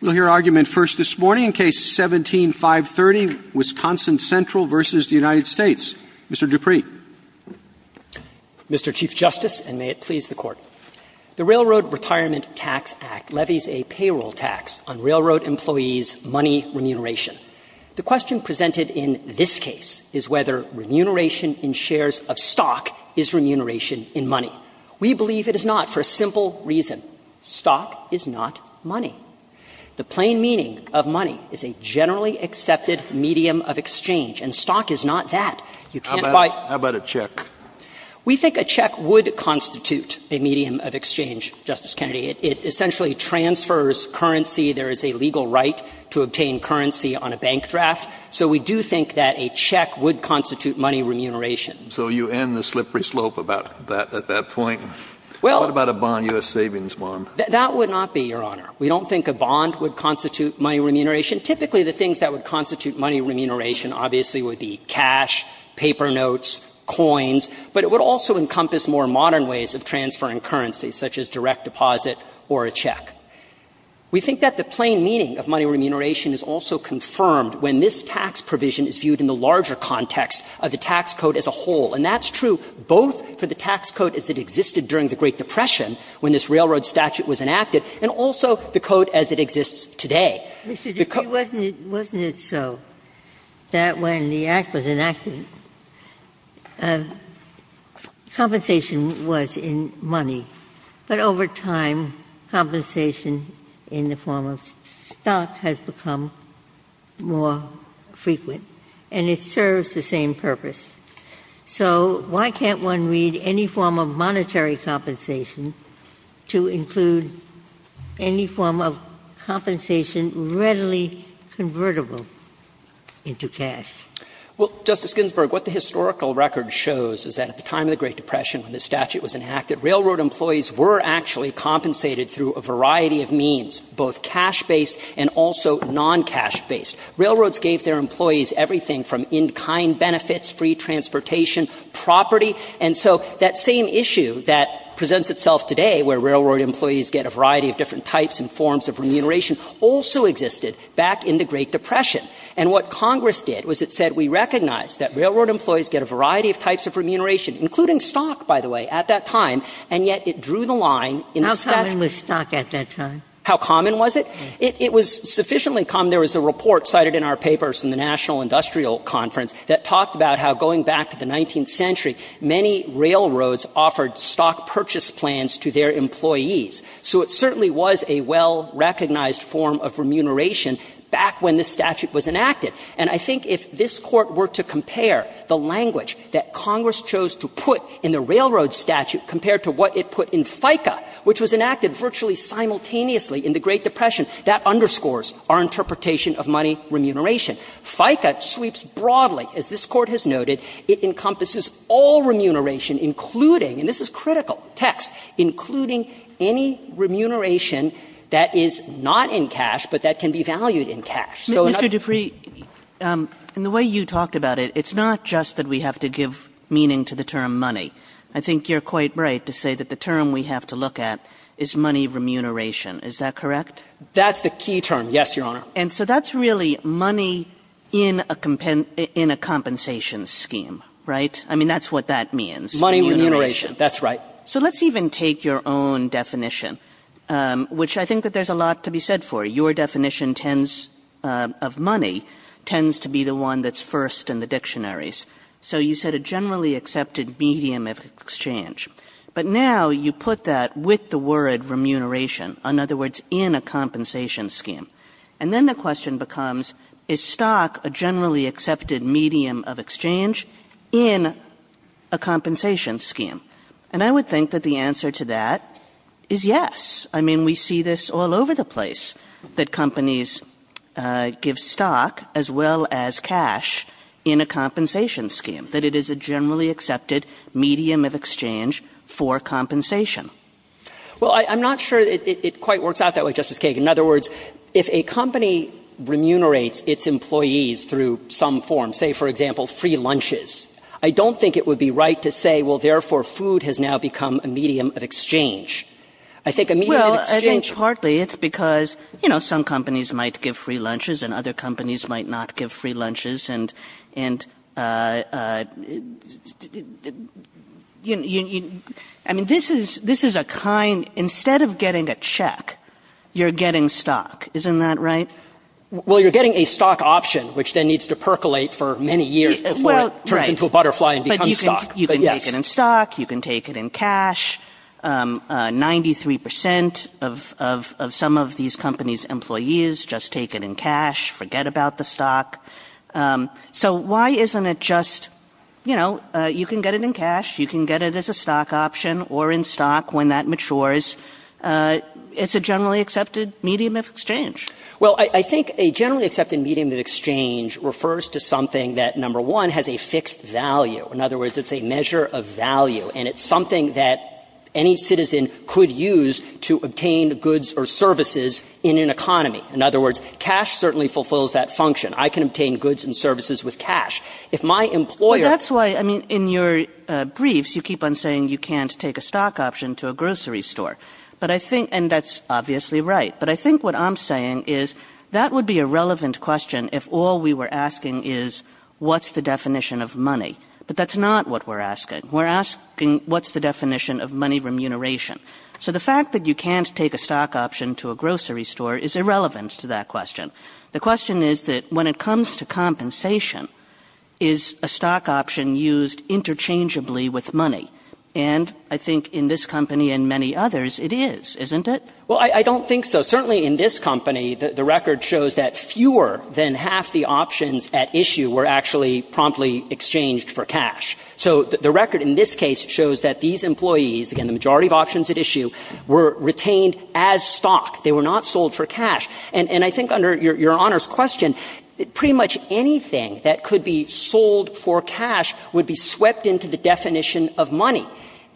We'll hear argument first this morning in Case No. 17-530, Wisconsin Central v. United States. Mr. Dupree. Mr. Chief Justice, and may it please the Court, the Railroad Retirement Tax Act levies a payroll tax on railroad employees' money remuneration. The question presented in this case is whether remuneration in shares of stock is remuneration in money. We believe it is not, for a simple reason. Stock is not money. The plain meaning of money is a generally accepted medium of exchange, and stock is not that. You can't buy— How about a check? We think a check would constitute a medium of exchange, Justice Kennedy. It essentially transfers currency. There is a legal right to obtain currency on a bank draft. So we do think that a check would constitute money remuneration. So you end the slippery slope about that at that point? Well— What about a bond, U.S. Savings Bond? That would not be, Your Honor. We don't think a bond would constitute money remuneration. Typically, the things that would constitute money remuneration obviously would be cash, paper notes, coins, but it would also encompass more modern ways of transferring currency, such as direct deposit or a check. We think that the plain meaning of money remuneration is also confirmed when this tax provision is viewed in the larger context of the tax code as a whole. And that's true both for the tax code as it existed during the Great Depression when this railroad statute was enacted, and also the code as it exists today. Mr. Dreeben, wasn't it so that when the Act was enacted, compensation was in money, but over time, compensation in the form of stock has become more frequent, and it serves the same purpose? So why can't one read any form of monetary compensation to include any form of compensation readily convertible into cash? Well, Justice Ginsburg, what the historical record shows is that at the time of the railroad statute was enacted, railroad employees were actually compensated through a variety of means, both cash-based and also non-cash-based. Railroads gave their employees everything from in-kind benefits, free transportation, property, and so that same issue that presents itself today, where railroad employees get a variety of different types and forms of remuneration, also existed back in the Great Depression. And what Congress did was it said we recognize that railroad employees get a variety of types of remuneration, including stock, by the way, at that time, and yet it drew the line in statute. How common was stock at that time? How common was it? It was sufficiently common. There was a report cited in our papers in the National Industrial Conference that talked about how, going back to the 19th century, many railroads offered stock purchase plans to their employees. So it certainly was a well-recognized form of remuneration back when this statute was enacted. And I think if this Court were to compare the language that Congress chose to put in the railroad statute compared to what it put in FICA, which was enacted virtually simultaneously in the Great Depression, that underscores our interpretation of money remuneration. FICA sweeps broadly, as this Court has noted. It encompasses all remuneration, including, and this is critical, text, including any remuneration that is not in cash but that can be valued in cash. Kagan in the way you talked about it, it's not just that we have to give meaning to the term money. I think you're quite right to say that the term we have to look at is money remuneration. Is that correct? That's the key term, yes, Your Honor. And so that's really money in a compensation scheme, right? I mean, that's what that means. Money remuneration. That's right. So let's even take your own definition, which I think that there's a lot to be said for. Your definition tends, of money, tends to be the one that's first in the dictionaries. So you said a generally accepted medium of exchange. But now you put that with the word remuneration, in other words, in a compensation scheme. And then the question becomes, is stock a generally accepted medium of exchange in a compensation scheme? And I would think that the answer to that is yes. I mean, we see this all over the place, that companies give stock as well as cash in a compensation scheme, that it is a generally accepted medium of exchange for compensation. Well, I'm not sure it quite works out that way, Justice Kagan. In other words, if a company remunerates its employees through some form, say, for example, free lunches, I don't think it would be right to say, well, therefore, food has now become a medium of exchange. I think a medium of exchange – Well, I think partly it's because, you know, some companies might give free lunches and other companies might not give free lunches. And, I mean, this is a kind – instead of getting a check, you're getting stock. Isn't that right? Well, you're getting a stock option, which then needs to percolate for many years before it turns into a butterfly and becomes stock. You can take it in stock, you can take it in cash. Ninety-three percent of some of these companies' employees just take it in cash, forget about the stock. So why isn't it just, you know, you can get it in cash, you can get it as a stock option, or in stock when that matures. It's a generally accepted medium of exchange. Well, I think a generally accepted medium of exchange refers to something that, number one, has a fixed value. In other words, it's a measure of value. And it's something that any citizen could use to obtain goods or services in an economy. In other words, cash certainly fulfills that function. I can obtain goods and services with cash. If my employer – Well, that's why, I mean, in your briefs, you keep on saying you can't take a stock option to a grocery store. But I think – and that's obviously right. But I think what I'm saying is that would be a relevant question if all we were asking is what's the definition of money. But that's not what we're asking. We're asking what's the definition of money remuneration. So the fact that you can't take a stock option to a grocery store is irrelevant to that question. The question is that when it comes to compensation, is a stock option used interchangeably with money? And I think in this company and many others, it is, isn't it? Well, I don't think so. Certainly in this company, the record shows that fewer than half the options at issue were actually promptly exchanged for cash. So the record in this case shows that these employees, again, the majority of options at issue, were retained as stock. They were not sold for cash. And I think under Your Honor's question, pretty much anything that could be sold for cash would be swept into the definition of money.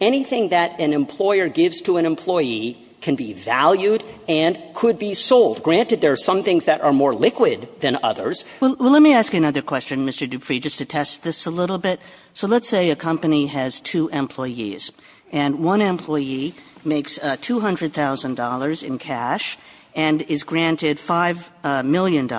Anything that an employer gives to an employee can be valued and could be sold. Granted, there are some things that are more liquid than others. Kagan. Well, let me ask another question, Mr. Dupree, just to test this a little bit. So let's say a company has two employees. And one employee makes $200,000 in cash and is granted $5 million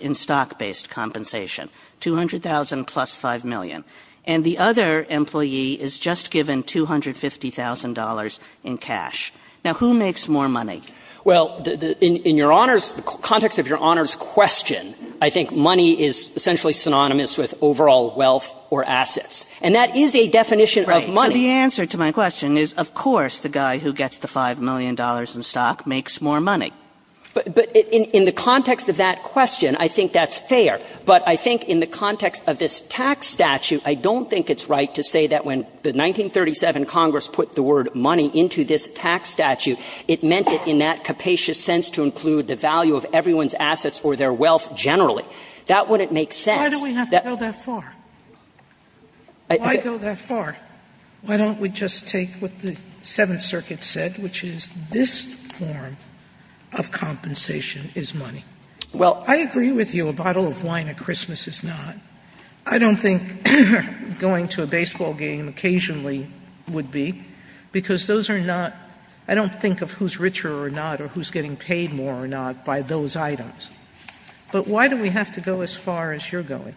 in stock-based compensation, $200,000 plus $5 million. And the other employee is just given $250,000 in cash. Now, who makes more money? Well, in Your Honor's – the context of Your Honor's question, I think money is essentially synonymous with overall wealth or assets. And that is a definition of money. Right. So the answer to my question is, of course, the guy who gets the $5 million in stock makes more money. But in the context of that question, I think that's fair. But I think in the context of this tax statute, I don't think it's right to say that when the 1937 Congress put the word money into this tax statute, it meant it in that capacious sense to include the value of everyone's assets or their wealth generally. That wouldn't make sense. Sotomayor Why do we have to go that far? Why go that far? Why don't we just take what the Seventh Circuit said, which is this form of compensation is money. I agree with you a bottle of wine at Christmas is not. I don't think going to a baseball game occasionally would be, because those are not – I don't think of who's richer or not or who's getting paid more or not by those items. But why do we have to go as far as you're going?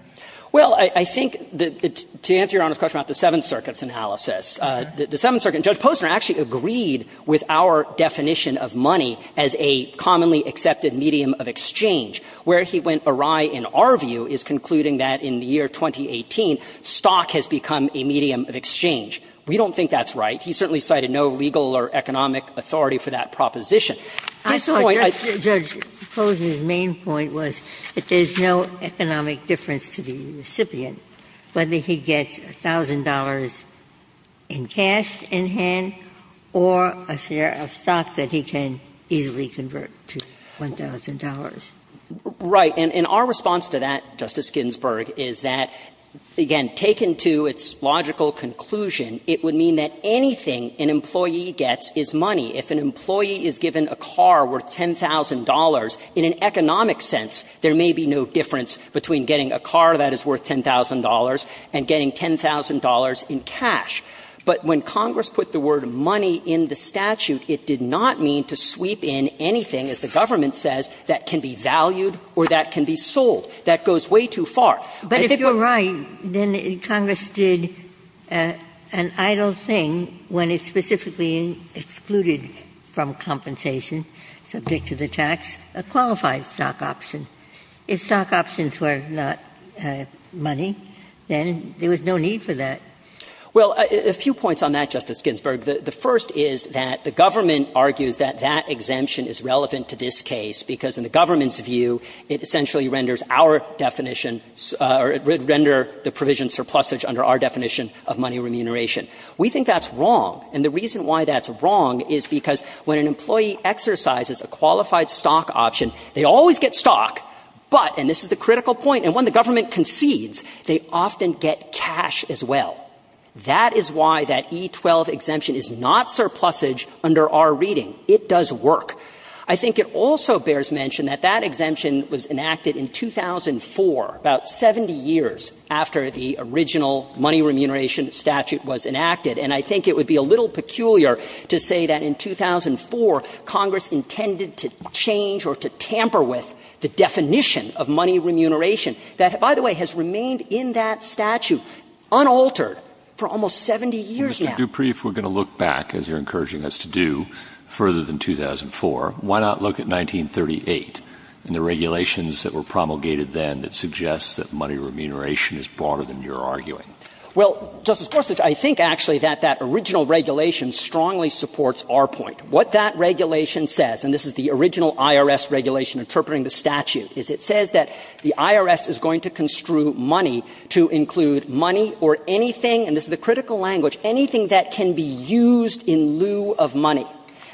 Well, I think to answer Your Honor's question about the Seventh Circuit's analysis, the Seventh Circuit and Judge Posner actually agreed with our definition of money as a commonly accepted medium of exchange. Where he went awry, in our view, is concluding that in the year 2018, stock has become a medium of exchange. We don't think that's right. He certainly cited no legal or economic authority for that proposition. At this point, I think the point that Judge Posner's main point was that there is no economic difference to the recipient, whether he gets $1,000 in cash in hand or a share of stock that he can easily convert to $1,000. Right. And our response to that, Justice Ginsburg, is that, again, taken to its logical conclusion, it would mean that anything an employee gets is money. If an employee is given a car worth $10,000, in an economic sense, there may be no difference between getting a car that is worth $10,000 and getting $10,000 in cash. But when Congress put the word money in the statute, it did not mean to sweep in anything, as the government says, that can be valued or that can be sold. That goes way too far. But if you're right, then Congress did an idle thing when it specifically excluded from compensation subject to the tax a qualified stock option. If stock options were not money, then there was no need for that. Well, a few points on that, Justice Ginsburg. The first is that the government argues that that exemption is relevant to this case, because in the government's view, it essentially renders our definition or it would render the provision surplusage under our definition of money remuneration. We think that's wrong, and the reason why that's wrong is because when an employee exercises a qualified stock option, they always get stock, but, and this is the critical point, and when the government concedes, they often get cash as well. That is why that E-12 exemption is not surplusage under our reading. It does work. I think it also bears mention that that exemption was enacted in 2004, about 70 years after the original money remuneration statute was enacted, and I think it would be a little peculiar to say that in 2004, Congress intended to change or to tamper with the definition of money remuneration that, by the way, has remained in that statute unaltered for almost 70 years now. Mr. Dupree, if we're going to look back, as you're encouraging us to do, further than 2004, why not look at 1938 and the regulations that were promulgated then that suggest that money remuneration is broader than you're arguing? Well, Justice Gorsuch, I think actually that that original regulation strongly supports our point. What that regulation says, and this is the original IRS regulation interpreting the statute, is it says that the IRS is going to construe money to include money or anything, and this is the critical language, anything that can be used in lieu of money.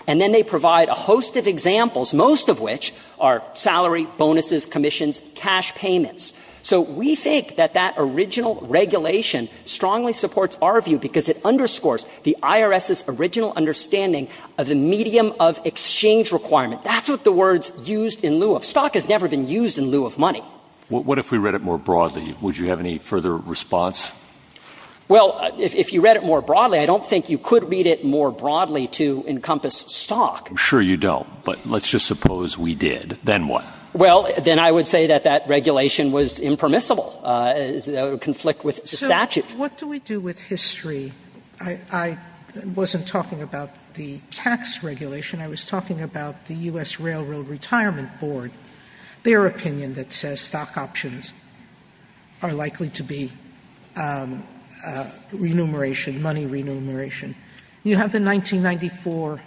And then they provide a host of examples, most of which are salary, bonuses, commissions, cash payments. So we think that that original regulation strongly supports our view because it underscores the IRS's original understanding of the medium of exchange requirement. That's what the words used in lieu of. Stock has never been used in lieu of money. What if we read it more broadly? Would you have any further response? Well, if you read it more broadly, I don't think you could read it more broadly to encompass stock. I'm sure you don't, but let's just suppose we did. Then what? Well, then I would say that that regulation was impermissible, a conflict with the statute. What do we do with history? I wasn't talking about the tax regulation. I was talking about the U.S. Railroad Retirement Board, their opinion that says stock options are likely to be remuneration, money remuneration. You have the 1994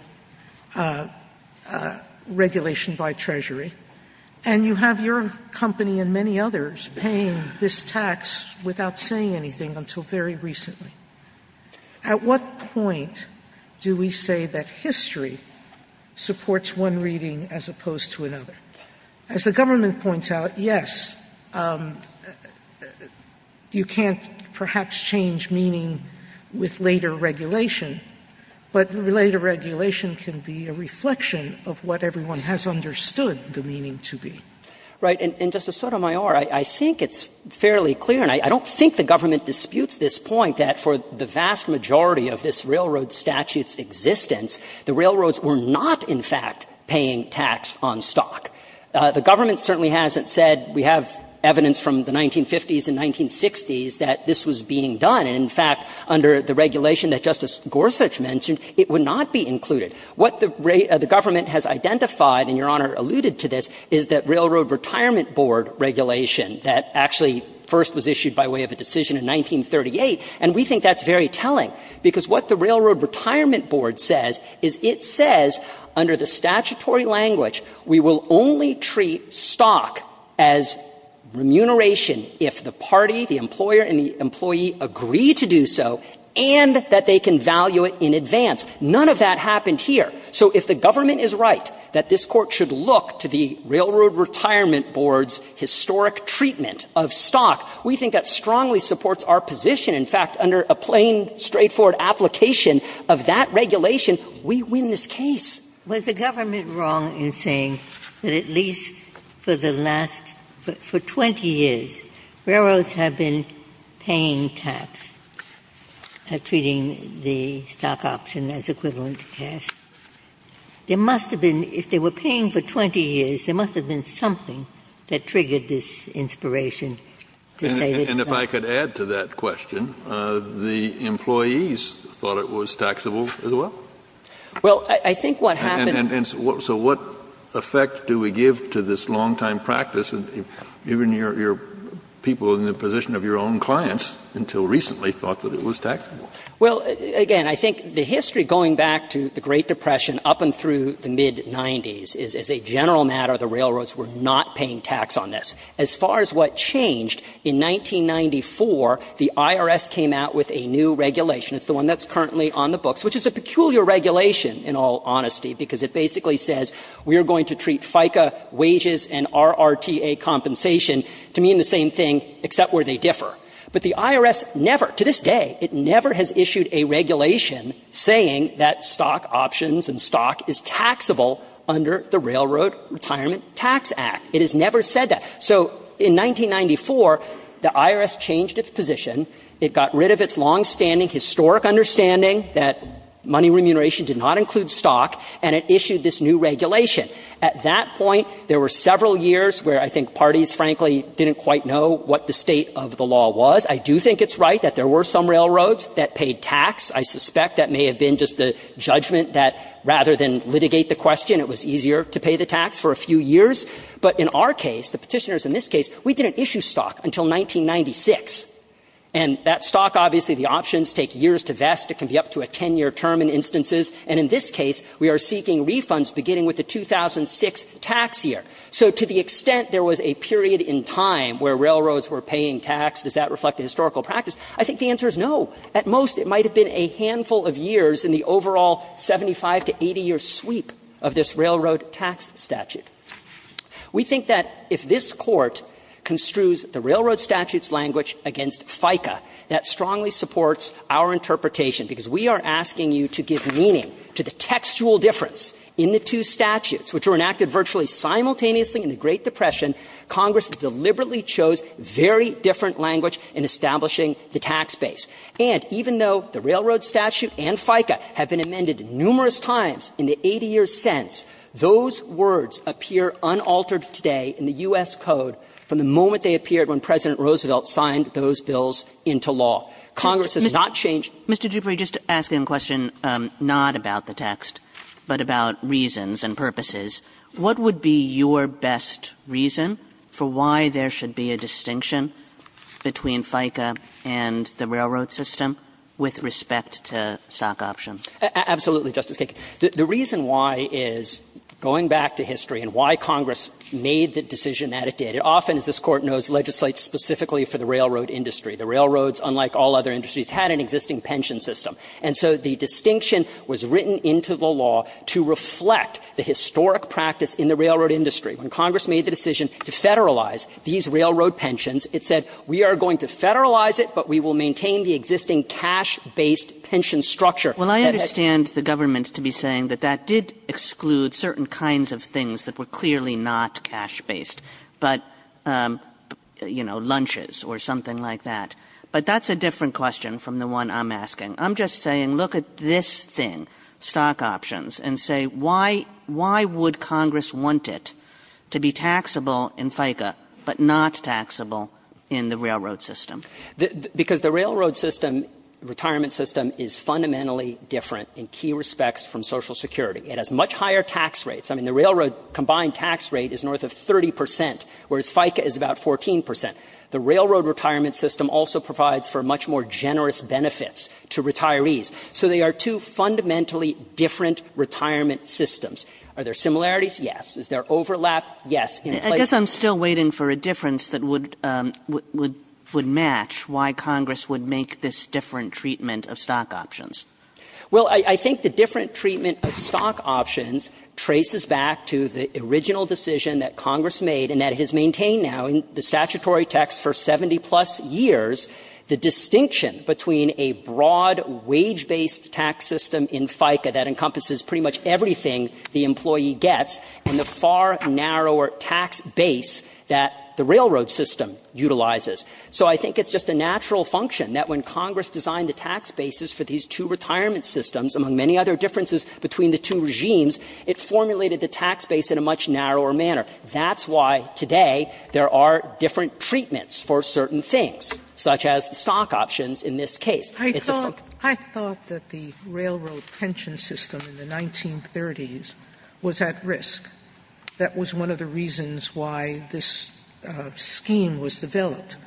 regulation by Treasury, and you have your company and many others paying this tax without saying anything until very recently. At what point do we say that history supports one reading as opposed to another? As the government points out, yes, you can't perhaps change meaning with later regulation, but later regulation can be a reflection of what everyone has understood the meaning to be. Right. And, Justice Sotomayor, I think it's fairly clear, and I don't think the government disputes this point, that for the vast majority of this railroad statute's existence, the railroads were not, in fact, paying tax on stock. The government certainly hasn't said we have evidence from the 1950s and 1960s that this was being done. In fact, under the regulation that Justice Gorsuch mentioned, it would not be included. What the government has identified, and Your Honor alluded to this, is that Railroad Retirement Board regulation that actually first was issued by way of a decision in 1938, and we think that's very telling, because what the Railroad Retirement Board says is it says, under the statutory language, we will only treat stock as remuneration if the party, the employer, and the employee agree to do so and that they can value it in advance. None of that happened here. So if the government is right that this Court should look to the Railroad Retirement Board's historic treatment of stock, we think that strongly supports our position. In fact, under a plain, straightforward application of that regulation, we win this case. Ginsburg. Was the government wrong in saying that at least for the last 20 years, railroads have been paying tax, treating the stock option as equivalent to cash? There must have been, if they were paying for 20 years, there must have been something that triggered this inspiration to say this. Kennedy. And if I could add to that question, the employees thought it was taxable as well. Well, I think what happened was And so what effect do we give to this longtime practice? And even your people in the position of your own clients until recently thought that it was taxable. Well, again, I think the history going back to the Great Depression up and through the mid-'90s is as a general matter, the railroads were not paying tax on this. As far as what changed, in 1994, the IRS came out with a new regulation. It's the one that's currently on the books, which is a peculiar regulation, in all honesty, because it basically says we are going to treat FICA wages and RRTA compensation to mean the same thing, except where they differ. But the IRS never, to this day, it never has issued a regulation saying that stock options and stock is taxable under the Railroad Retirement Tax Act. It has never said that. So in 1994, the IRS changed its position. It got rid of its longstanding historic understanding that money remuneration did not include stock, and it issued this new regulation. At that point, there were several years where I think parties, frankly, didn't quite know what the state of the law was. I do think it's right that there were some railroads that paid tax. I suspect that may have been just a judgment that rather than litigate the question, it was easier to pay the tax for a few years. But in our case, the Petitioners in this case, we didn't issue stock until 1996. And that stock, obviously, the options take years to vest. It can be up to a 10-year term in instances. And in this case, we are seeking refunds beginning with the 2006 tax year. So to the extent there was a period in time where railroads were paying tax, does that reflect a historical practice? I think the answer is no. At most, it might have been a handful of years in the overall 75 to 80-year sweep of this railroad tax statute. We think that if this Court construes the railroad statute's language against FICA, that strongly supports our interpretation, because we are asking you to give meaning to the textual difference in the two statutes, which were enacted virtually simultaneously in the Great Depression. Congress deliberately chose very different language in establishing the tax base. And even though the railroad statute and FICA have been amended numerous times in the 80 years since, those words appear unaltered today in the U.S. Code from the moment they appeared when President Roosevelt signed those bills into law. Congress has not changed. Kagan, Mr. Dupree, just to ask you a question not about the text, but about reasons and purposes, what would be your best reason for why there should be a distinction between FICA and the railroad system with respect to stock options? Absolutely, Justice Kagan. The reason why is, going back to history and why Congress made the decision that it did, it often, as this Court knows, legislates specifically for the railroad industry. The railroads, unlike all other industries, had an existing pension system. And so the distinction was written into the law to reflect the historic practice in the railroad industry. When Congress made the decision to federalize these railroad pensions, it said we are going to federalize it, but we will maintain the existing cash-based pension structure. Well, I understand the government to be saying that that did exclude certain kinds of things that were clearly not cash-based. But, you know, lunches or something like that. But that's a different question from the one I'm asking. I'm just saying, look at this thing, stock options, and say, why would Congress want it to be taxable in FICA, but not taxable in the railroad system? Because the railroad system, retirement system, is fundamentally different in key respects from Social Security. It has much higher tax rates. I mean, the railroad combined tax rate is north of 30 percent, whereas FICA is about 14 percent. The railroad retirement system also provides for much more generous benefits to retirees. So they are two fundamentally different retirement systems. Are there similarities? Yes. In places of the country, it's not. Kagan I guess I'm still waiting for a difference that would match why Congress would make this different treatment of stock options. Well, I think the different treatment of stock options traces back to the original decision that Congress made and that it has maintained now in the statutory text for 70-plus years, the distinction between a broad wage-based tax system in FICA that encompasses pretty much everything the employee gets and the far narrower tax base that the railroad system utilizes. So I think it's just a natural function that when Congress designed the tax bases for these two retirement systems, among many other differences between the two regimes, it formulated the tax base in a much narrower manner. That's why today there are different treatments for certain things, such as the stock options in this case. It's a function. Sotomayor I thought that the railroad pension system in the 1930s was at risk. That was one of the reasons why this scheme was developed.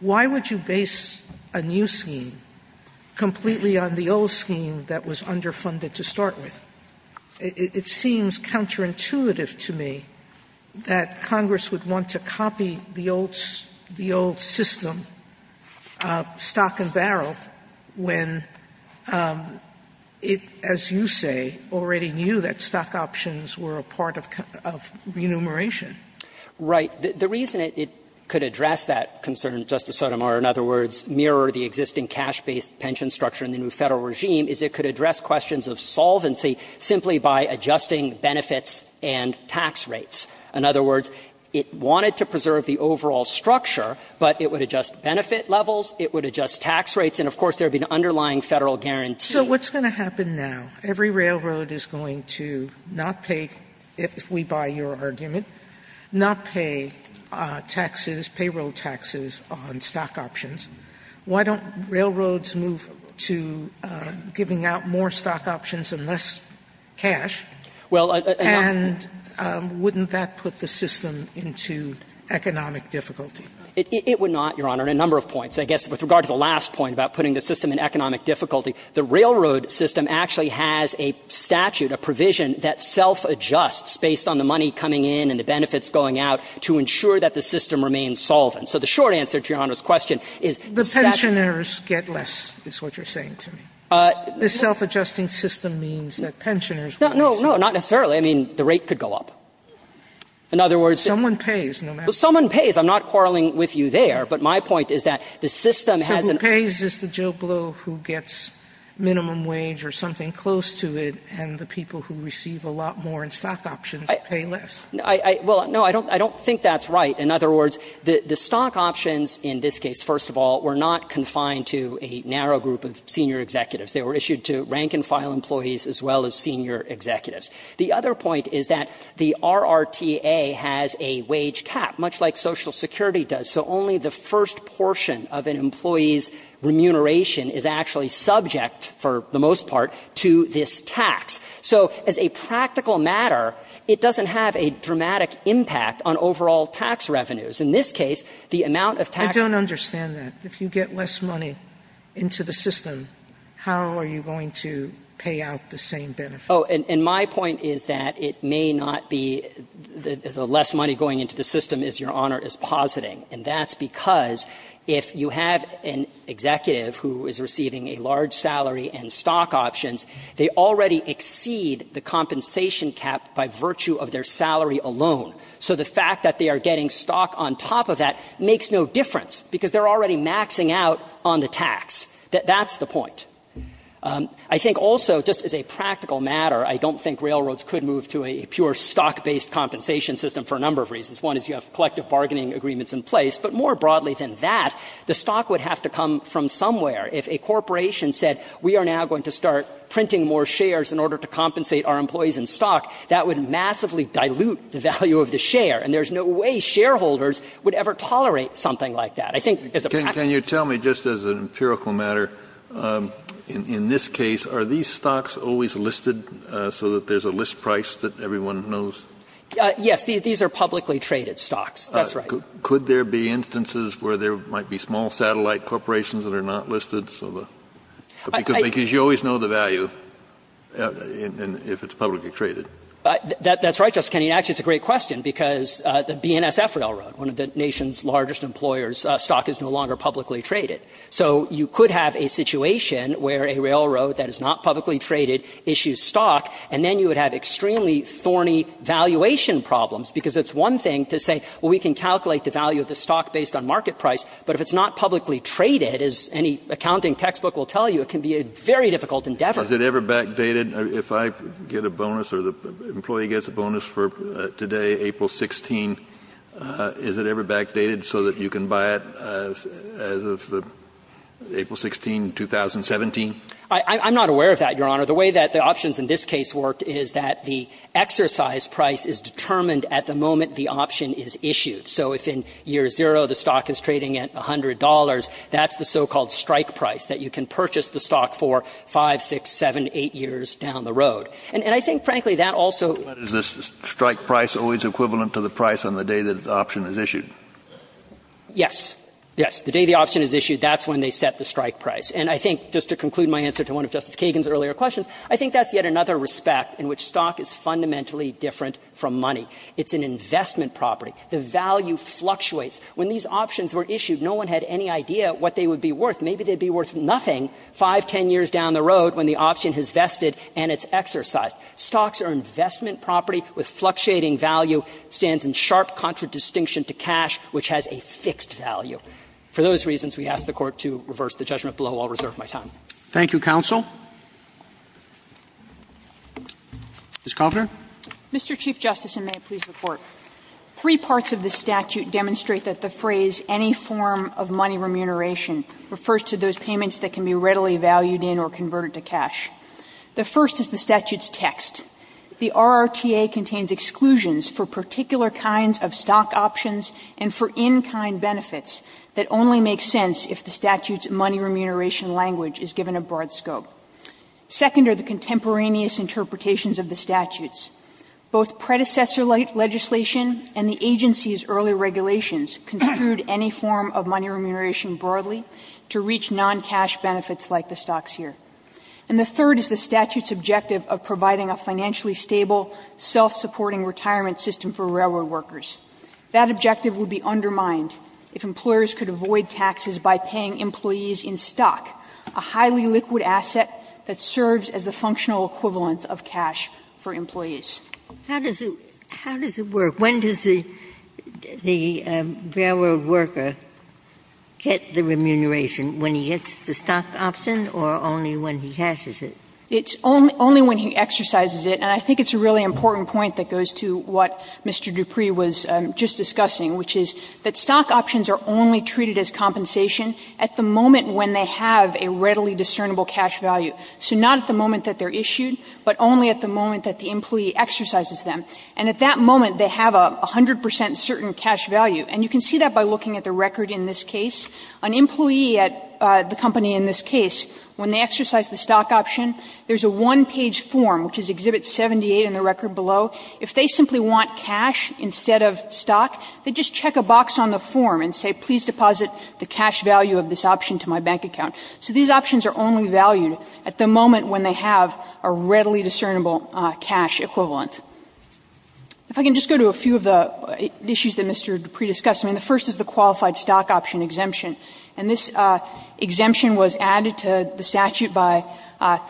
Why would you base a new scheme completely on the old scheme that was underfunded to start with? It seems counterintuitive to me that Congress would want to copy the old system, stock and barrel, when it, as you say, already knew that stock options were a part of remuneration. Right. The reason it could address that concern, Justice Sotomayor, in other words, mirror the existing cash-based pension structure in the new Federal regime, is it could address questions of solvency simply by adjusting benefits and tax rates. In other words, it wanted to preserve the overall structure, but it would adjust benefit levels, it would adjust tax rates, and of course there would be an underlying Federal guarantee. Sotomayor So what's going to happen now? Every railroad is going to not pay, if we buy your argument, not pay taxes, payroll taxes on stock options. Why don't railroads move to giving out more stock options and less cash? And wouldn't that put the system into economic difficulty? It would not, Your Honor, on a number of points. I guess with regard to the last point about putting the system in economic difficulty, the railroad system actually has a statute, a provision, that self-adjusts based on the money coming in and the benefits going out to ensure that the system remains solvent. So the short answer to Your Honor's question is that the statute doesn't The pensioners get less, is what you're saying to me. The self-adjusting system means that pensioners would be safe. No, no, not necessarily. I mean, the rate could go up. In other words, someone pays, no matter what. Someone pays. I'm not quarreling with you there, but my point is that the system has an The person who pays is the Joe Blow who gets minimum wage or something close to it, and the people who receive a lot more in stock options pay less. Well, no, I don't think that's right. In other words, the stock options in this case, first of all, were not confined to a narrow group of senior executives. They were issued to rank-and-file employees as well as senior executives. The other point is that the RRTA has a wage cap, much like Social Security does. So only the first portion of an employee's remuneration is actually subject, for the most part, to this tax. So as a practical matter, it doesn't have a dramatic impact on overall tax revenues. In this case, the amount of tax I don't understand that. If you get less money into the system, how are you going to pay out the same benefit? Oh, and my point is that it may not be the less money going into the system is your that's because if you have an executive who is receiving a large salary in stock options, they already exceed the compensation cap by virtue of their salary alone. So the fact that they are getting stock on top of that makes no difference, because they are already maxing out on the tax. That's the point. I think also, just as a practical matter, I don't think railroads could move to a pure stock-based compensation system for a number of reasons. One is you have collective bargaining agreements in place. But more broadly than that, the stock would have to come from somewhere. If a corporation said, we are now going to start printing more shares in order to compensate our employees in stock, that would massively dilute the value of the share. And there's no way shareholders would ever tolerate something like that. I think as a practical matter Can you tell me, just as an empirical matter, in this case, are these stocks always listed so that there's a list price that everyone knows? Yes. These are publicly traded stocks. That's right. Could there be instances where there might be small satellite corporations that are not listed, so the – because you always know the value if it's publicly traded. That's right, Justice Kennedy. And actually, it's a great question, because the BNSF Railroad, one of the nation's largest employers, stock is no longer publicly traded. So you could have a situation where a railroad that is not publicly traded issues a stock, and then you would have extremely thorny valuation problems, because it's one thing to say, well, we can calculate the value of the stock based on market price, but if it's not publicly traded, as any accounting textbook will tell you, it can be a very difficult endeavor. Is it ever backdated? If I get a bonus or the employee gets a bonus for today, April 16, is it ever backdated so that you can buy it as of April 16, 2017? I'm not aware of that, Your Honor. The way that the options in this case worked is that the exercise price is determined at the moment the option is issued. So if in year zero the stock is trading at $100, that's the so-called strike price that you can purchase the stock for 5, 6, 7, 8 years down the road. And I think, frankly, that also — But is the strike price always equivalent to the price on the day that the option is issued? Yes. Yes. The day the option is issued, that's when they set the strike price. And I think, just to conclude my answer to one of Justice Kagan's earlier questions, I think that's yet another respect in which stock is fundamentally different from money. It's an investment property. The value fluctuates. When these options were issued, no one had any idea what they would be worth. Maybe they would be worth nothing 5, 10 years down the road when the option has vested and it's exercised. Stocks are investment property with fluctuating value, stands in sharp contradistinction to cash, which has a fixed value. So for those reasons, we ask the Court to reverse the judgment below. I'll reserve my time. Thank you, counsel. Ms. Kovner. Mr. Chief Justice, and may it please the Court. Three parts of the statute demonstrate that the phrase, any form of money remuneration, refers to those payments that can be readily valued in or converted to cash. The first is the statute's text. The RRTA contains exclusions for particular kinds of stock options and for in-kind benefits that only make sense if the statute's money remuneration language is given a broad scope. Second are the contemporaneous interpretations of the statutes. Both predecessor legislation and the agency's early regulations construed any form of money remuneration broadly to reach non-cash benefits like the stocks here. And the third is the statute's objective of providing a financially stable, self-supporting retirement system for railroad workers. That objective would be undermined if employers could avoid taxes by paying employees in stock, a highly liquid asset that serves as the functional equivalent of cash for employees. Ginsburg. How does it work? When does the railroad worker get the remuneration? When he gets the stock option or only when he cashes it? It's only when he exercises it. And I think it's a really important point that goes to what Mr. Dupree was just discussing, which is that stock options are only treated as compensation at the moment when they have a readily discernible cash value. So not at the moment that they're issued, but only at the moment that the employee exercises them. And at that moment, they have a 100 percent certain cash value. And you can see that by looking at the record in this case. An employee at the company in this case, when they exercise the stock option, there's a one-page form, which is Exhibit 78 in the record below. If they simply want cash instead of stock, they just check a box on the form and say, please deposit the cash value of this option to my bank account. So these options are only valued at the moment when they have a readily discernible cash equivalent. If I can just go to a few of the issues that Mr. Dupree discussed. I mean, the first is the qualified stock option exemption. And this exemption was added to the statute by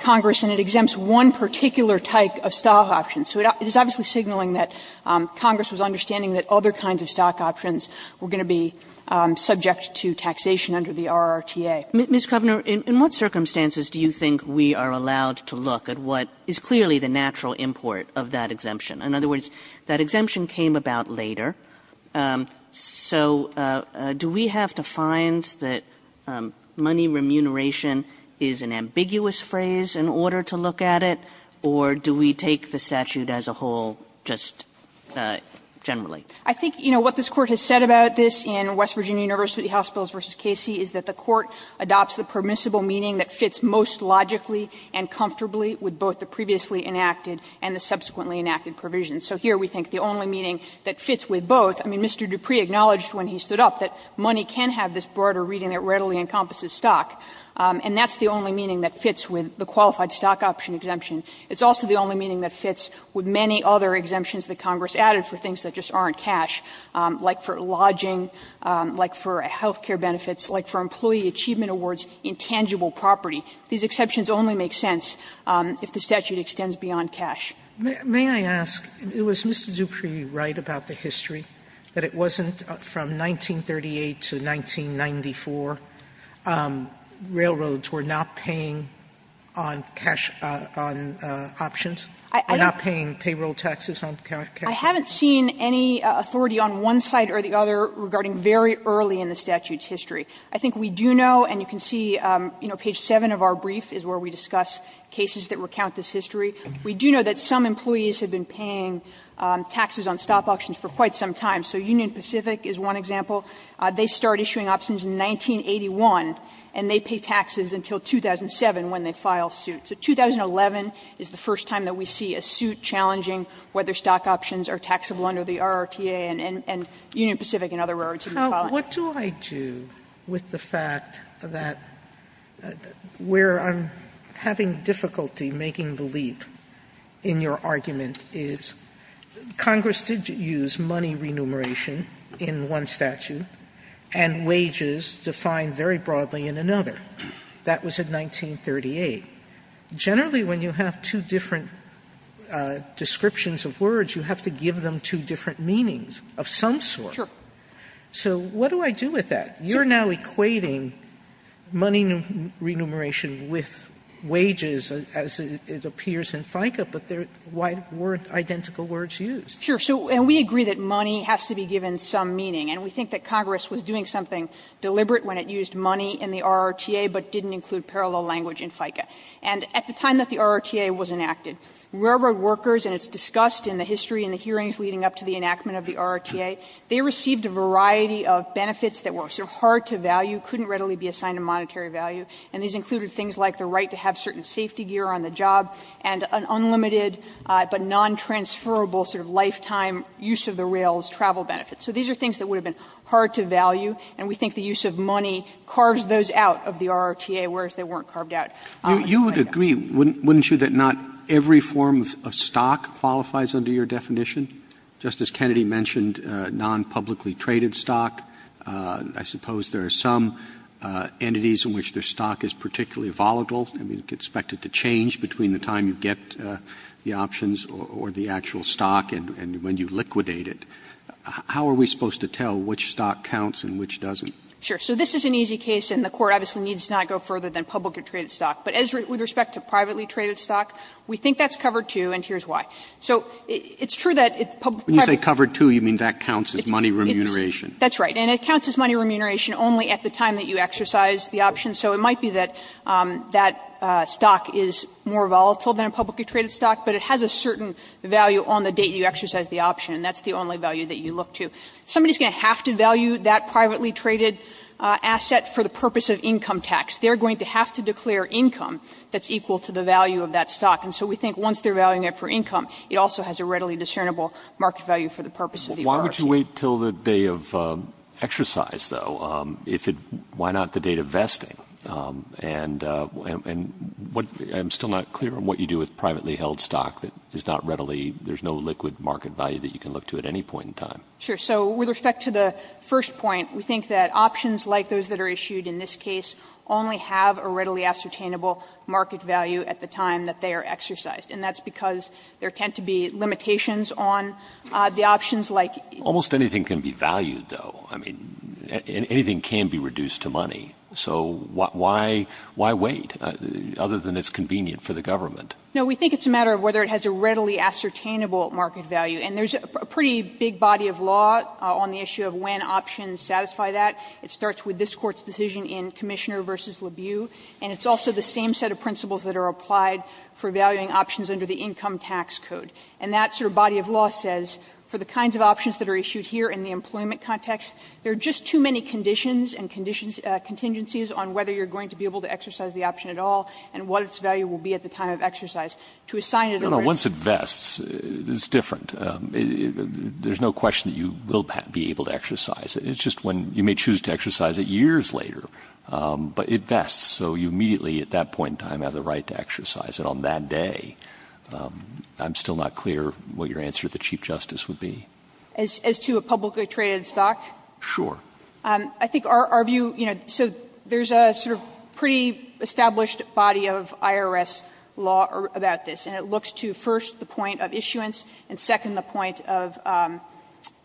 Congress, and it exempts one particular type of stock option. So it is obviously signaling that Congress was understanding that other kinds of stock options were going to be subject to taxation under the RRTA. Kagan in what circumstances do you think we are allowed to look at what is clearly the natural import of that exemption? In other words, that exemption came about later. So do we have to find that money remuneration is an ambiguous phrase in order to look at it, or do we take the statute as a whole just generally? I think, you know, what this Court has said about this in West Virginia University Hospitals v. Casey is that the Court adopts the permissible meaning that fits most logically and comfortably with both the previously enacted and the subsequently enacted provisions. So here we think the only meaning that fits with both, I mean, Mr. Dupree acknowledged when he stood up that money can have this broader reading that readily encompasses stock, and that's the only meaning that fits with the qualified stock option exemption. It's also the only meaning that fits with many other exemptions that Congress added for things that just aren't cash, like for lodging, like for health care benefits, like for employee achievement awards in tangible property. These exceptions only make sense if the statute extends beyond cash. Sotomayor, may I ask, was Mr. Dupree right about the history that it wasn't from 1938 to 1994, railroads were not paying on cash on options? They were not paying payroll taxes on cash? I haven't seen any authority on one side or the other regarding very early in the statute's history. I think we do know, and you can see, you know, page 7 of our brief is where we discuss cases that recount this history. We do know that some employees have been paying taxes on stop options for quite some time. So Union Pacific is one example. They start issuing options in 1981, and they pay taxes until 2007 when they file suits. So 2011 is the first time that we see a suit challenging whether stock options are taxable under the RRTA, and Union Pacific and other railroads have been filing. Sotomayor, what do I do with the fact that where I'm having difficulty making the leap in your argument is Congress did use money remuneration in one statute and wages defined very broadly in another. That was in 1938. Generally, when you have two different descriptions of words, you have to give them two different meanings of some sort. So what do I do with that? You're now equating money remuneration with wages, as it appears in FICA, but there weren't identical words used. Sure. And we agree that money has to be given some meaning, and we think that Congress was doing something deliberate when it used money in the RRTA, but didn't include parallel language in FICA. And at the time that the RRTA was enacted, railroad workers, and it's discussed in the history and the hearings leading up to the enactment of the RRTA, they received a variety of benefits that were sort of hard to value, couldn't readily be assigned to monetary value, and these included things like the right to have certain safety gear on the job and an unlimited, but non-transferable sort of lifetime use of the rail's travel benefits. So these are things that would have been hard to value, and we think the use of money carves those out of the RRTA, whereas they weren't carved out. Roberts, you would agree, wouldn't you, that not every form of stock qualifies under your definition? Just as Kennedy mentioned, non-publicly traded stock, I suppose there are some entities in which their stock is particularly volatile, and you'd expect it to change between the time you get the options or the actual stock and when you liquidate it. How are we supposed to tell which stock counts and which doesn't? Sure. So this is an easy case, and the Court obviously needs to not go further than publicly traded stock. But as with respect to privately traded stock, we think that's covered, too, and here's why. So it's true that it's publicly traded. Roberts, when you say covered, too, you mean that counts as money remuneration. That's right. And it counts as money remuneration only at the time that you exercise the option. So it might be that that stock is more volatile than a publicly traded stock, but it has a certain value on the date you exercise the option, and that's the only value that you look to. Somebody is going to have to value that privately traded asset for the purpose of income tax. They are going to have to declare income that's equal to the value of that stock. And so we think once they are valuing it for income, it also has a readily discernible market value for the purpose of the option. Why would you wait until the day of exercise, though? If it why not the date of vesting? And what the – I'm still not clear on what you do with privately held stock that is not readily – there's no liquid market value that you can look to at any point in time. Sure. So with respect to the first point, we think that options like those that are issued in this case only have a readily ascertainable market value at the time that they are exercised, and that's because there tend to be limitations on the options like – Almost anything can be valued, though. I mean, anything can be reduced to money. So why wait, other than it's convenient for the government? No, we think it's a matter of whether it has a readily ascertainable market value. And there's a pretty big body of law on the issue of when options satisfy that. It starts with this Court's decision in Commissioner v. LaBeau, and it's also the value of options under the Income Tax Code. And that sort of body of law says for the kinds of options that are issued here in the employment context, there are just too many conditions and contingencies on whether you're going to be able to exercise the option at all and what its value will be at the time of exercise. To assign it a raise… No, no. Once it vests, it's different. There's no question that you will be able to exercise it. It's just when – you may choose to exercise it years later, but it vests, so you immediately at that point in time have the right to exercise it. So I'm not sure what your answer to the Chief Justice would be on that day. I'm still not clear what your answer to the Chief Justice would be. As to a publicly traded stock? Sure. I think our view, you know, so there's a sort of pre-established body of IRS law about this, and it looks to, first, the point of issuance, and second, the point of –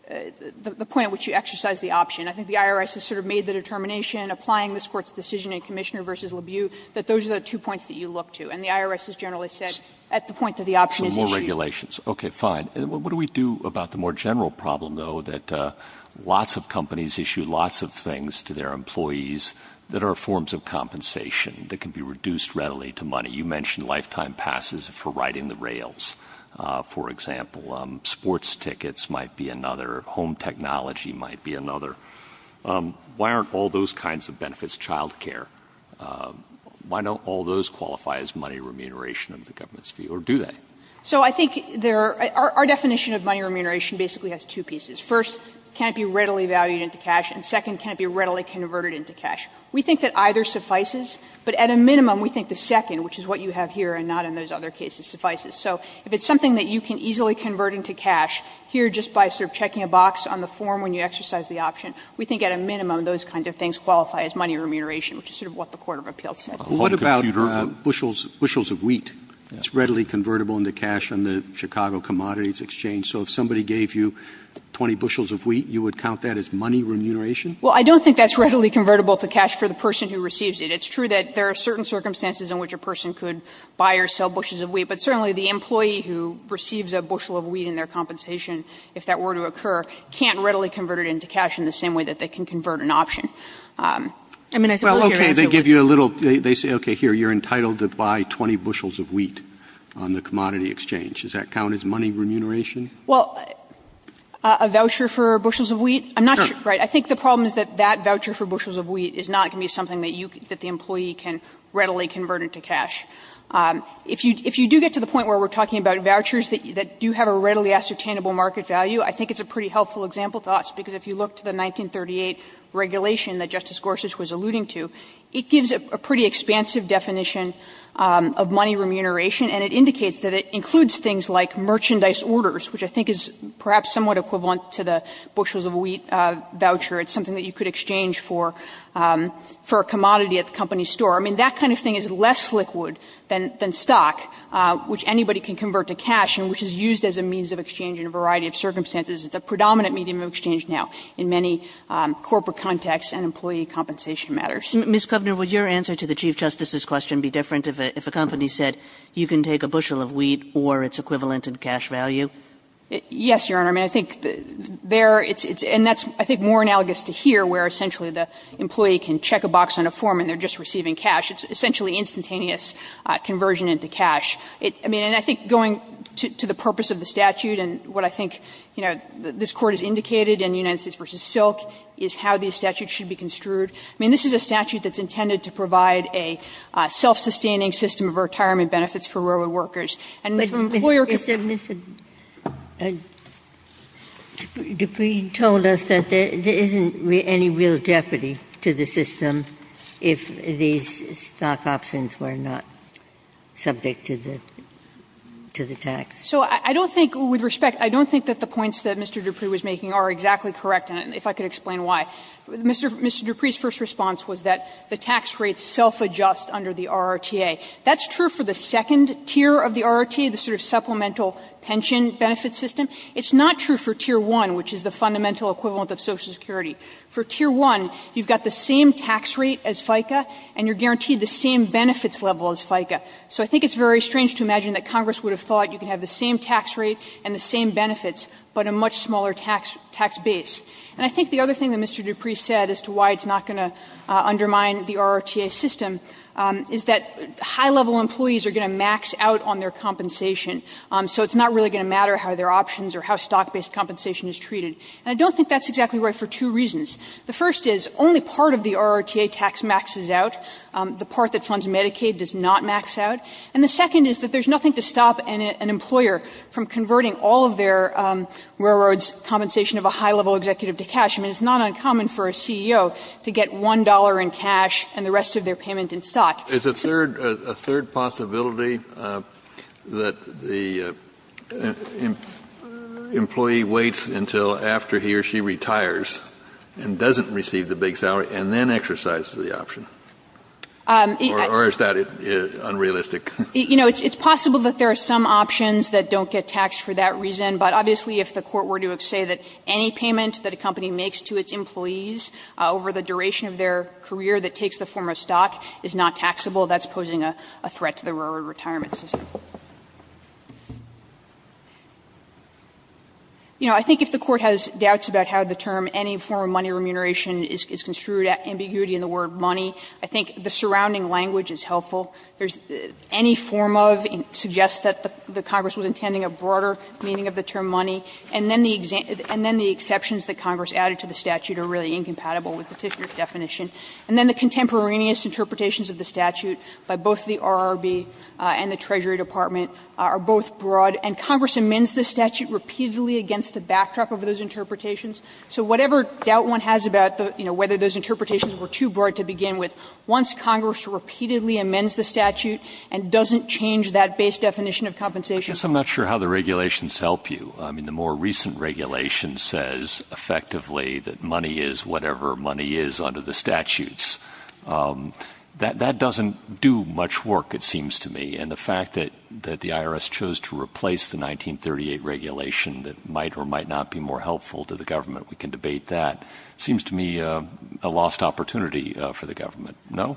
the point at which you exercise the option. And I think the IRS has sort of made the determination, applying this Court's decision in Commissioner v. Levieux, that those are the two points that you look to. And the IRS has generally said at the point that the option is issued… So more regulations. Okay, fine. What do we do about the more general problem, though, that lots of companies issue lots of things to their employees that are forms of compensation that can be reduced readily to money? You mentioned lifetime passes for riding the rails, for example. Sports tickets might be another. Home technology might be another. Why aren't all those kinds of benefits child care? Why don't all those qualify as money remuneration of the government's view, or do they? So I think there are – our definition of money remuneration basically has two pieces. First, it can't be readily valued into cash, and second, it can't be readily converted into cash. We think that either suffices, but at a minimum, we think the second, which is what you have here and not in those other cases, suffices. So if it's something that you can easily convert into cash, here, just by sort of checking a box on the form when you exercise the option, we think at a minimum those kinds of things qualify as money remuneration, which is sort of what the court of appeals said. What about bushels of wheat? It's readily convertible into cash on the Chicago Commodities Exchange. So if somebody gave you 20 bushels of wheat, you would count that as money remuneration? Well, I don't think that's readily convertible to cash for the person who receives it. It's true that there are certain circumstances in which a person could buy or sell a bushel of wheat, but the employee who receives a bushel of wheat in their compensation, if that were to occur, can't readily convert it into cash in the same way that they can convert an option. I mean, I suppose here it's a little bit of both. Well, okay, they give you a little – they say, okay, here, you're entitled to buy 20 bushels of wheat on the Commodity Exchange. Does that count as money remuneration? Well, a voucher for bushels of wheat? I'm not sure. Sure. Right. I think the problem is that that voucher for bushels of wheat is not going to be something that you – that the employee can readily convert into cash. If you do get to the point where we're talking about vouchers that do have a readily ascertainable market value, I think it's a pretty helpful example to us, because if you look to the 1938 regulation that Justice Gorsuch was alluding to, it gives a pretty expansive definition of money remuneration, and it indicates that it includes things like merchandise orders, which I think is perhaps somewhat equivalent to the bushels of wheat voucher. It's something that you could exchange for a commodity at the company store. I mean, that kind of thing is less liquid than stock, which anybody can convert to cash and which is used as a means of exchange in a variety of circumstances. It's a predominant medium of exchange now in many corporate contexts and employee compensation matters. Ms. Kovner, would your answer to the Chief Justice's question be different if a company said you can take a bushel of wheat or its equivalent in cash value? Yes, Your Honor. I mean, I think there it's – and that's, I think, more analogous to here, where essentially the employee can check a box on a form and they're just receiving it in cash. It's essentially instantaneous conversion into cash. I mean, and I think going to the purpose of the statute and what I think, you know, this Court has indicated in United States v. Silk is how these statutes should be construed. I mean, this is a statute that's intended to provide a self-sustaining system of retirement benefits for railroad workers. And if an employer can do that. And Dupree told us that there isn't any real jeopardy to the system if these stock options were not subject to the – to the tax. So I don't think, with respect, I don't think that the points that Mr. Dupree was making are exactly correct, and if I could explain why. Mr. Dupree's first response was that the tax rates self-adjust under the RRTA. That's true for the second tier of the RRTA, the sort of supplemental pension benefit system. It's not true for tier 1, which is the fundamental equivalent of Social Security. For tier 1, you've got the same tax rate as FICA, and you're guaranteed the same benefits level as FICA. So I think it's very strange to imagine that Congress would have thought you could have the same tax rate and the same benefits, but a much smaller tax base. And I think the other thing that Mr. Dupree said as to why it's not going to undermine the RRTA system is that high-level employees are going to max out on their compensation. So it's not really going to matter how their options or how stock-based compensation is treated. And I don't think that's exactly right for two reasons. The first is only part of the RRTA tax maxes out. The part that funds Medicaid does not max out. And the second is that there's nothing to stop an employer from converting all of their railroad's compensation of a high-level executive to cash. I mean, it's not uncommon for a CEO to get $1 in cash and the rest of their payment in stock. Kennedy, it's a third possibility that the employee waits until after he or she retires and doesn't receive the big salary and then exercises the option? Or is that unrealistic? You know, it's possible that there are some options that don't get taxed for that reason, but obviously if the Court were to say that any payment that a company makes to its employees over the duration of their career that takes the form of stock is not taxable, that's posing a threat to the railroad retirement system. You know, I think if the Court has doubts about how the term any form of money remuneration is construed, ambiguity in the word money, I think the surrounding language is helpful. There's any form of suggests that the Congress was intending a broader meaning of the term money, and then the exceptions that Congress added to the statute are really incompatible with the Tishner definition. And then the contemporaneous interpretations of the statute by both the RRB and the Treasury Department are both broad, and Congress amends the statute repeatedly against the backdrop of those interpretations. So whatever doubt one has about, you know, whether those interpretations were too broad to begin with, once Congress repeatedly amends the statute and doesn't change that base definition of compensation. I guess I'm not sure how the regulations help you. I mean, the more recent regulation says effectively that money is whatever money is under the statutes, that doesn't do much work, it seems to me. And the fact that the IRS chose to replace the 1938 regulation that might or might not be more helpful to the government, we can debate that, seems to me a lost opportunity for the government, no?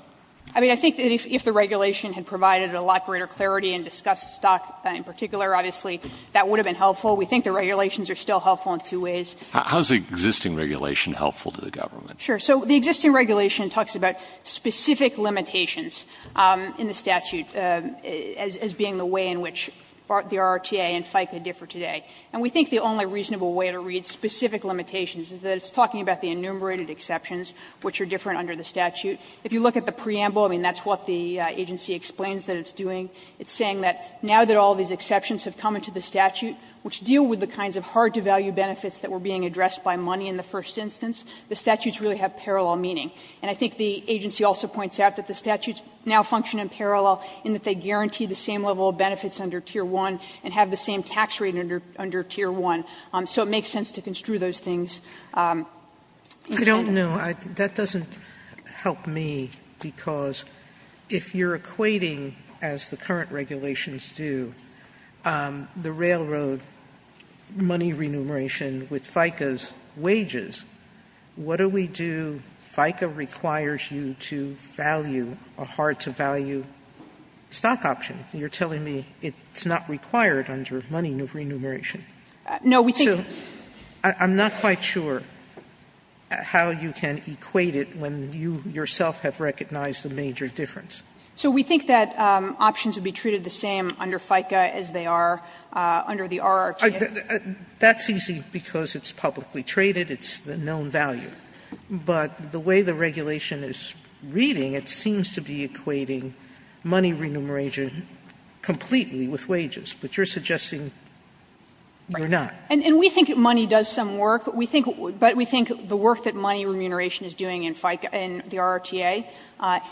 I mean, I think that if the regulation had provided a lot greater clarity and discussed stock in particular, obviously, that would have been helpful. We think the regulations are still helpful in two ways. How is the existing regulation helpful to the government? Sure. So the existing regulation talks about specific limitations in the statute as being the way in which the RRTA and FICA differ today. And we think the only reasonable way to read specific limitations is that it's talking about the enumerated exceptions, which are different under the statute. If you look at the preamble, I mean, that's what the agency explains that it's doing. It's saying that now that all these exceptions have come into the statute, which deal with the kinds of hard-to-value benefits that were being addressed by money in the first instance, the statutes really have parallel meaning. And I think the agency also points out that the statutes now function in parallel in that they guarantee the same level of benefits under Tier 1 and have the same tax rate under Tier 1. So it makes sense to construe those things. Sotomayor, I don't know. That doesn't help me, because if you're equating, as the current regulations do, the railroad money remuneration with FICA's wages, what do we do? FICA requires you to value a hard-to-value stock option. You're telling me it's not required under money remuneration. So I'm not quite sure how you can equate it when you yourself have recognized the major difference. Under FICA, as they are, under the RRTA. Sotomayor, that's easy because it's publicly traded, it's the known value. But the way the regulation is reading, it seems to be equating money remuneration completely with wages, but you're suggesting you're not. And we think money does some work, but we think the work that money remuneration is doing in FICA, in the RRTA,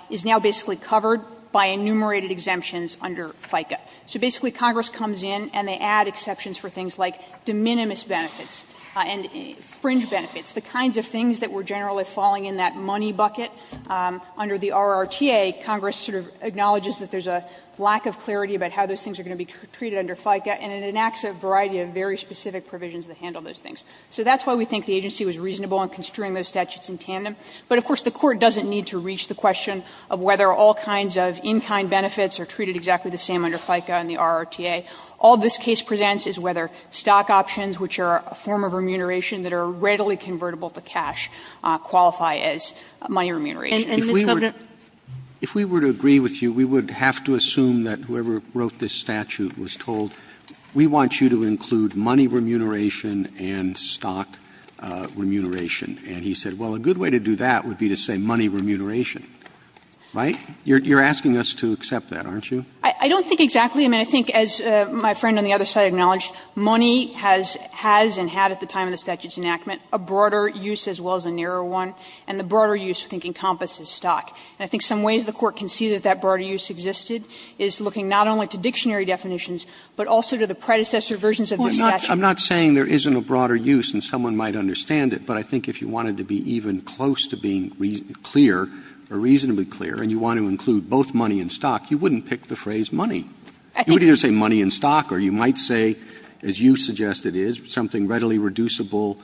is now basically covered by enumerated exemptions under FICA. So basically Congress comes in and they add exceptions for things like de minimis benefits and fringe benefits, the kinds of things that were generally falling in that money bucket. Under the RRTA, Congress sort of acknowledges that there's a lack of clarity about how those things are going to be treated under FICA, and it enacts a variety of very specific provisions that handle those things. So that's why we think the agency was reasonable in construing those statutes in tandem. But of course, the Court doesn't need to reach the question of whether all kinds of in-kind benefits are treated exactly the same under FICA and the RRTA. All this case presents is whether stock options, which are a form of remuneration that are readily convertible to cash, qualify as money remuneration. And, Mr. Governor? Roberts If we were to agree with you, we would have to assume that whoever wrote this statute was told, we want you to include money remuneration and stock remuneration. And he said, well, a good way to do that would be to say money remuneration. Right? You're asking us to accept that, aren't you? I don't think exactly. I mean, I think as my friend on the other side acknowledged, money has and had at the time of the statute's enactment a broader use as well as a narrower one, and the broader use, I think, encompasses stock. And I think some ways the Court can see that that broader use existed is looking not only to dictionary definitions, but also to the predecessor versions of the statute. I'm not saying there isn't a broader use and someone might understand it, but I think if you wanted to be even close to being clear, or reasonably clear, and you want to include both money and stock, you wouldn't pick the phrase money. You would either say money and stock, or you might say, as you suggest it is, something readily reducible,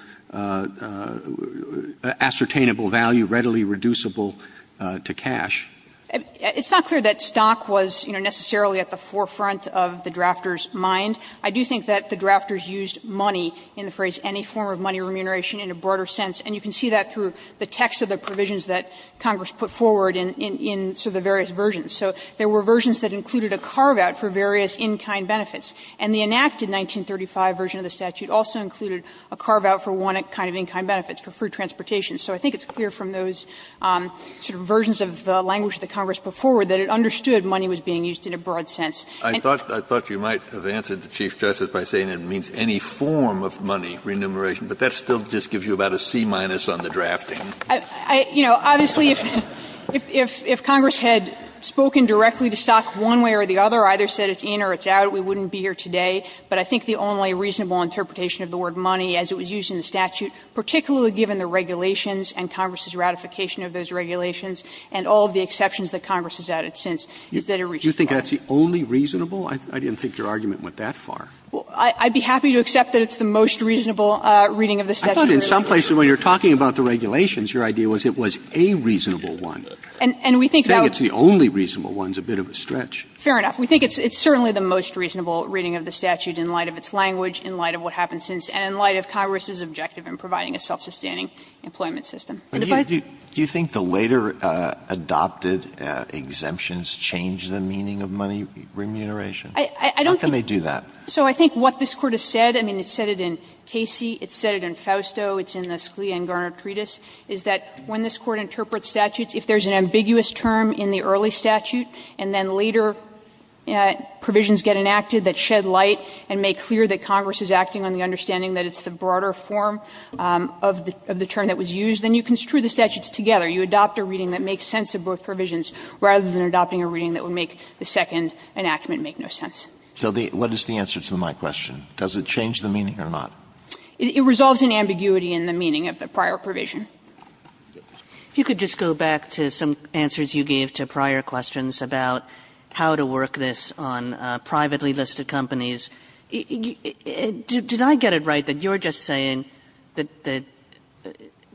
ascertainable value, readily reducible to cash. It's not clear that stock was, you know, necessarily at the forefront of the drafter's mind. I do think that the drafters used money in the phrase, any form of money remuneration in a broader sense, and you can see that through the text of the provisions that Congress put forward in sort of the various versions. So there were versions that included a carve-out for various in-kind benefits, and the enacted 1935 version of the statute also included a carve-out for one kind of in-kind benefits, for free transportation. So I think it's clear from those sort of versions of the language that Congress put forward that it understood money was being used in a broad sense. Kennedy, I thought you might have answered the Chief Justice by saying it means any form of money remuneration, but that still just gives you about a C-minus on the drafting. You know, obviously, if Congress had spoken directly to stock one way or the other, either said it's in or it's out, we wouldn't be here today, but I think the only reasonable interpretation of the word money, as it was used in the statute, particularly given the regulations and Congress's ratification of those regulations and all of the Do you think that's the only reasonable? I didn't think your argument went that far. Well, I'd be happy to accept that it's the most reasonable reading of the statute. I thought in some places when you're talking about the regulations, your idea was it was a reasonable one. And we think that's the only reasonable one is a bit of a stretch. Fair enough. We think it's certainly the most reasonable reading of the statute in light of its language, in light of what happened since, and in light of Congress's objective in providing a self-sustaining employment system. Do you think the later adopted exemptions changed the meaning of money remuneration? How can they do that? So I think what this Court has said, I mean, it said it in Casey, it said it in Fausto, it's in the Scalia and Garner treatise, is that when this Court interprets statutes, if there's an ambiguous term in the early statute and then later provisions get enacted that shed light and make clear that Congress is acting on the understanding that it's the broader form of the term that was used, then you construe the statutes together. You adopt a reading that makes sense of both provisions rather than adopting a reading that would make the second enactment make no sense. So what is the answer to my question? Does it change the meaning or not? It resolves an ambiguity in the meaning of the prior provision. If you could just go back to some answers you gave to prior questions about how to get it right, that you're just saying that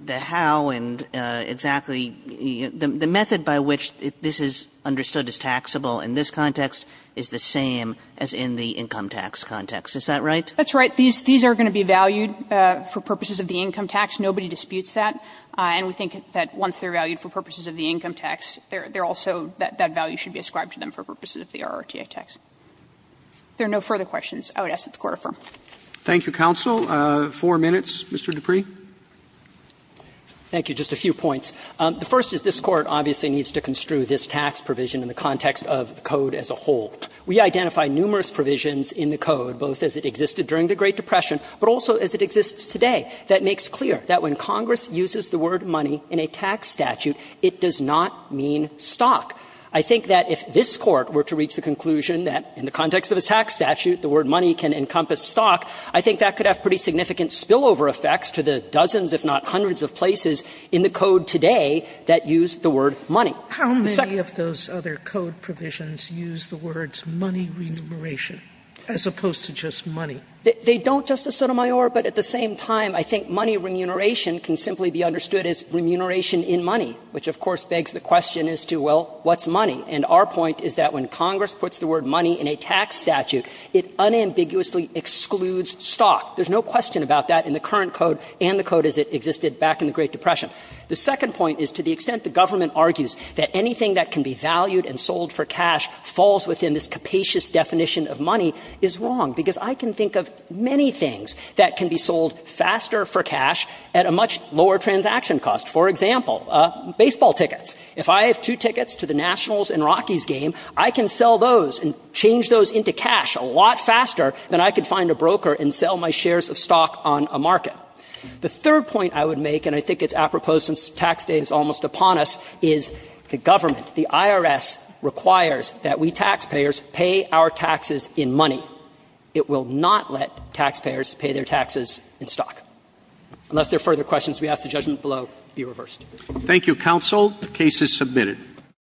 the how and exactly the method by which this is understood as taxable in this context is the same as in the income tax context. Is that right? That's right. These are going to be valued for purposes of the income tax. Nobody disputes that. And we think that once they're valued for purposes of the income tax, they're also that that value should be ascribed to them for purposes of the RRTA tax. If there are no further questions, I would ask that the Court affirm. Thank you, counsel. Four minutes, Mr. Dupree. Thank you. Just a few points. The first is this Court obviously needs to construe this tax provision in the context of the Code as a whole. We identify numerous provisions in the Code, both as it existed during the Great Depression, but also as it exists today, that makes clear that when Congress uses the word money in a tax statute, it does not mean stock. I think that if this Court were to reach the conclusion that in the context of the tax statute, the word money can encompass stock, I think that could have pretty significant spillover effects to the dozens, if not hundreds of places in the Code today that use the word money. How many of those other Code provisions use the words money remuneration as opposed to just money? They don't, Justice Sotomayor, but at the same time, I think money remuneration can simply be understood as remuneration in money, which of course begs the question as to, well, what's money? And our point is that when Congress puts the word money in a tax statute, it unambiguously excludes stock. There's no question about that in the current Code and the Code as it existed back in the Great Depression. The second point is to the extent the government argues that anything that can be valued and sold for cash falls within this capacious definition of money is wrong, because I can think of many things that can be sold faster for cash at a much lower transaction cost. For example, baseball tickets. If I have two tickets to the Nationals and Rockies game, I can sell those and change those into cash a lot faster than I could find a broker and sell my shares of stock on a market. The third point I would make, and I think it's apropos since tax day is almost upon us, is the government, the IRS, requires that we taxpayers pay our taxes in money. It will not let taxpayers pay their taxes in stock. Unless there are further questions, we ask the judgment below be reversed. Roberts. Thank you, Counsel. The case is submitted.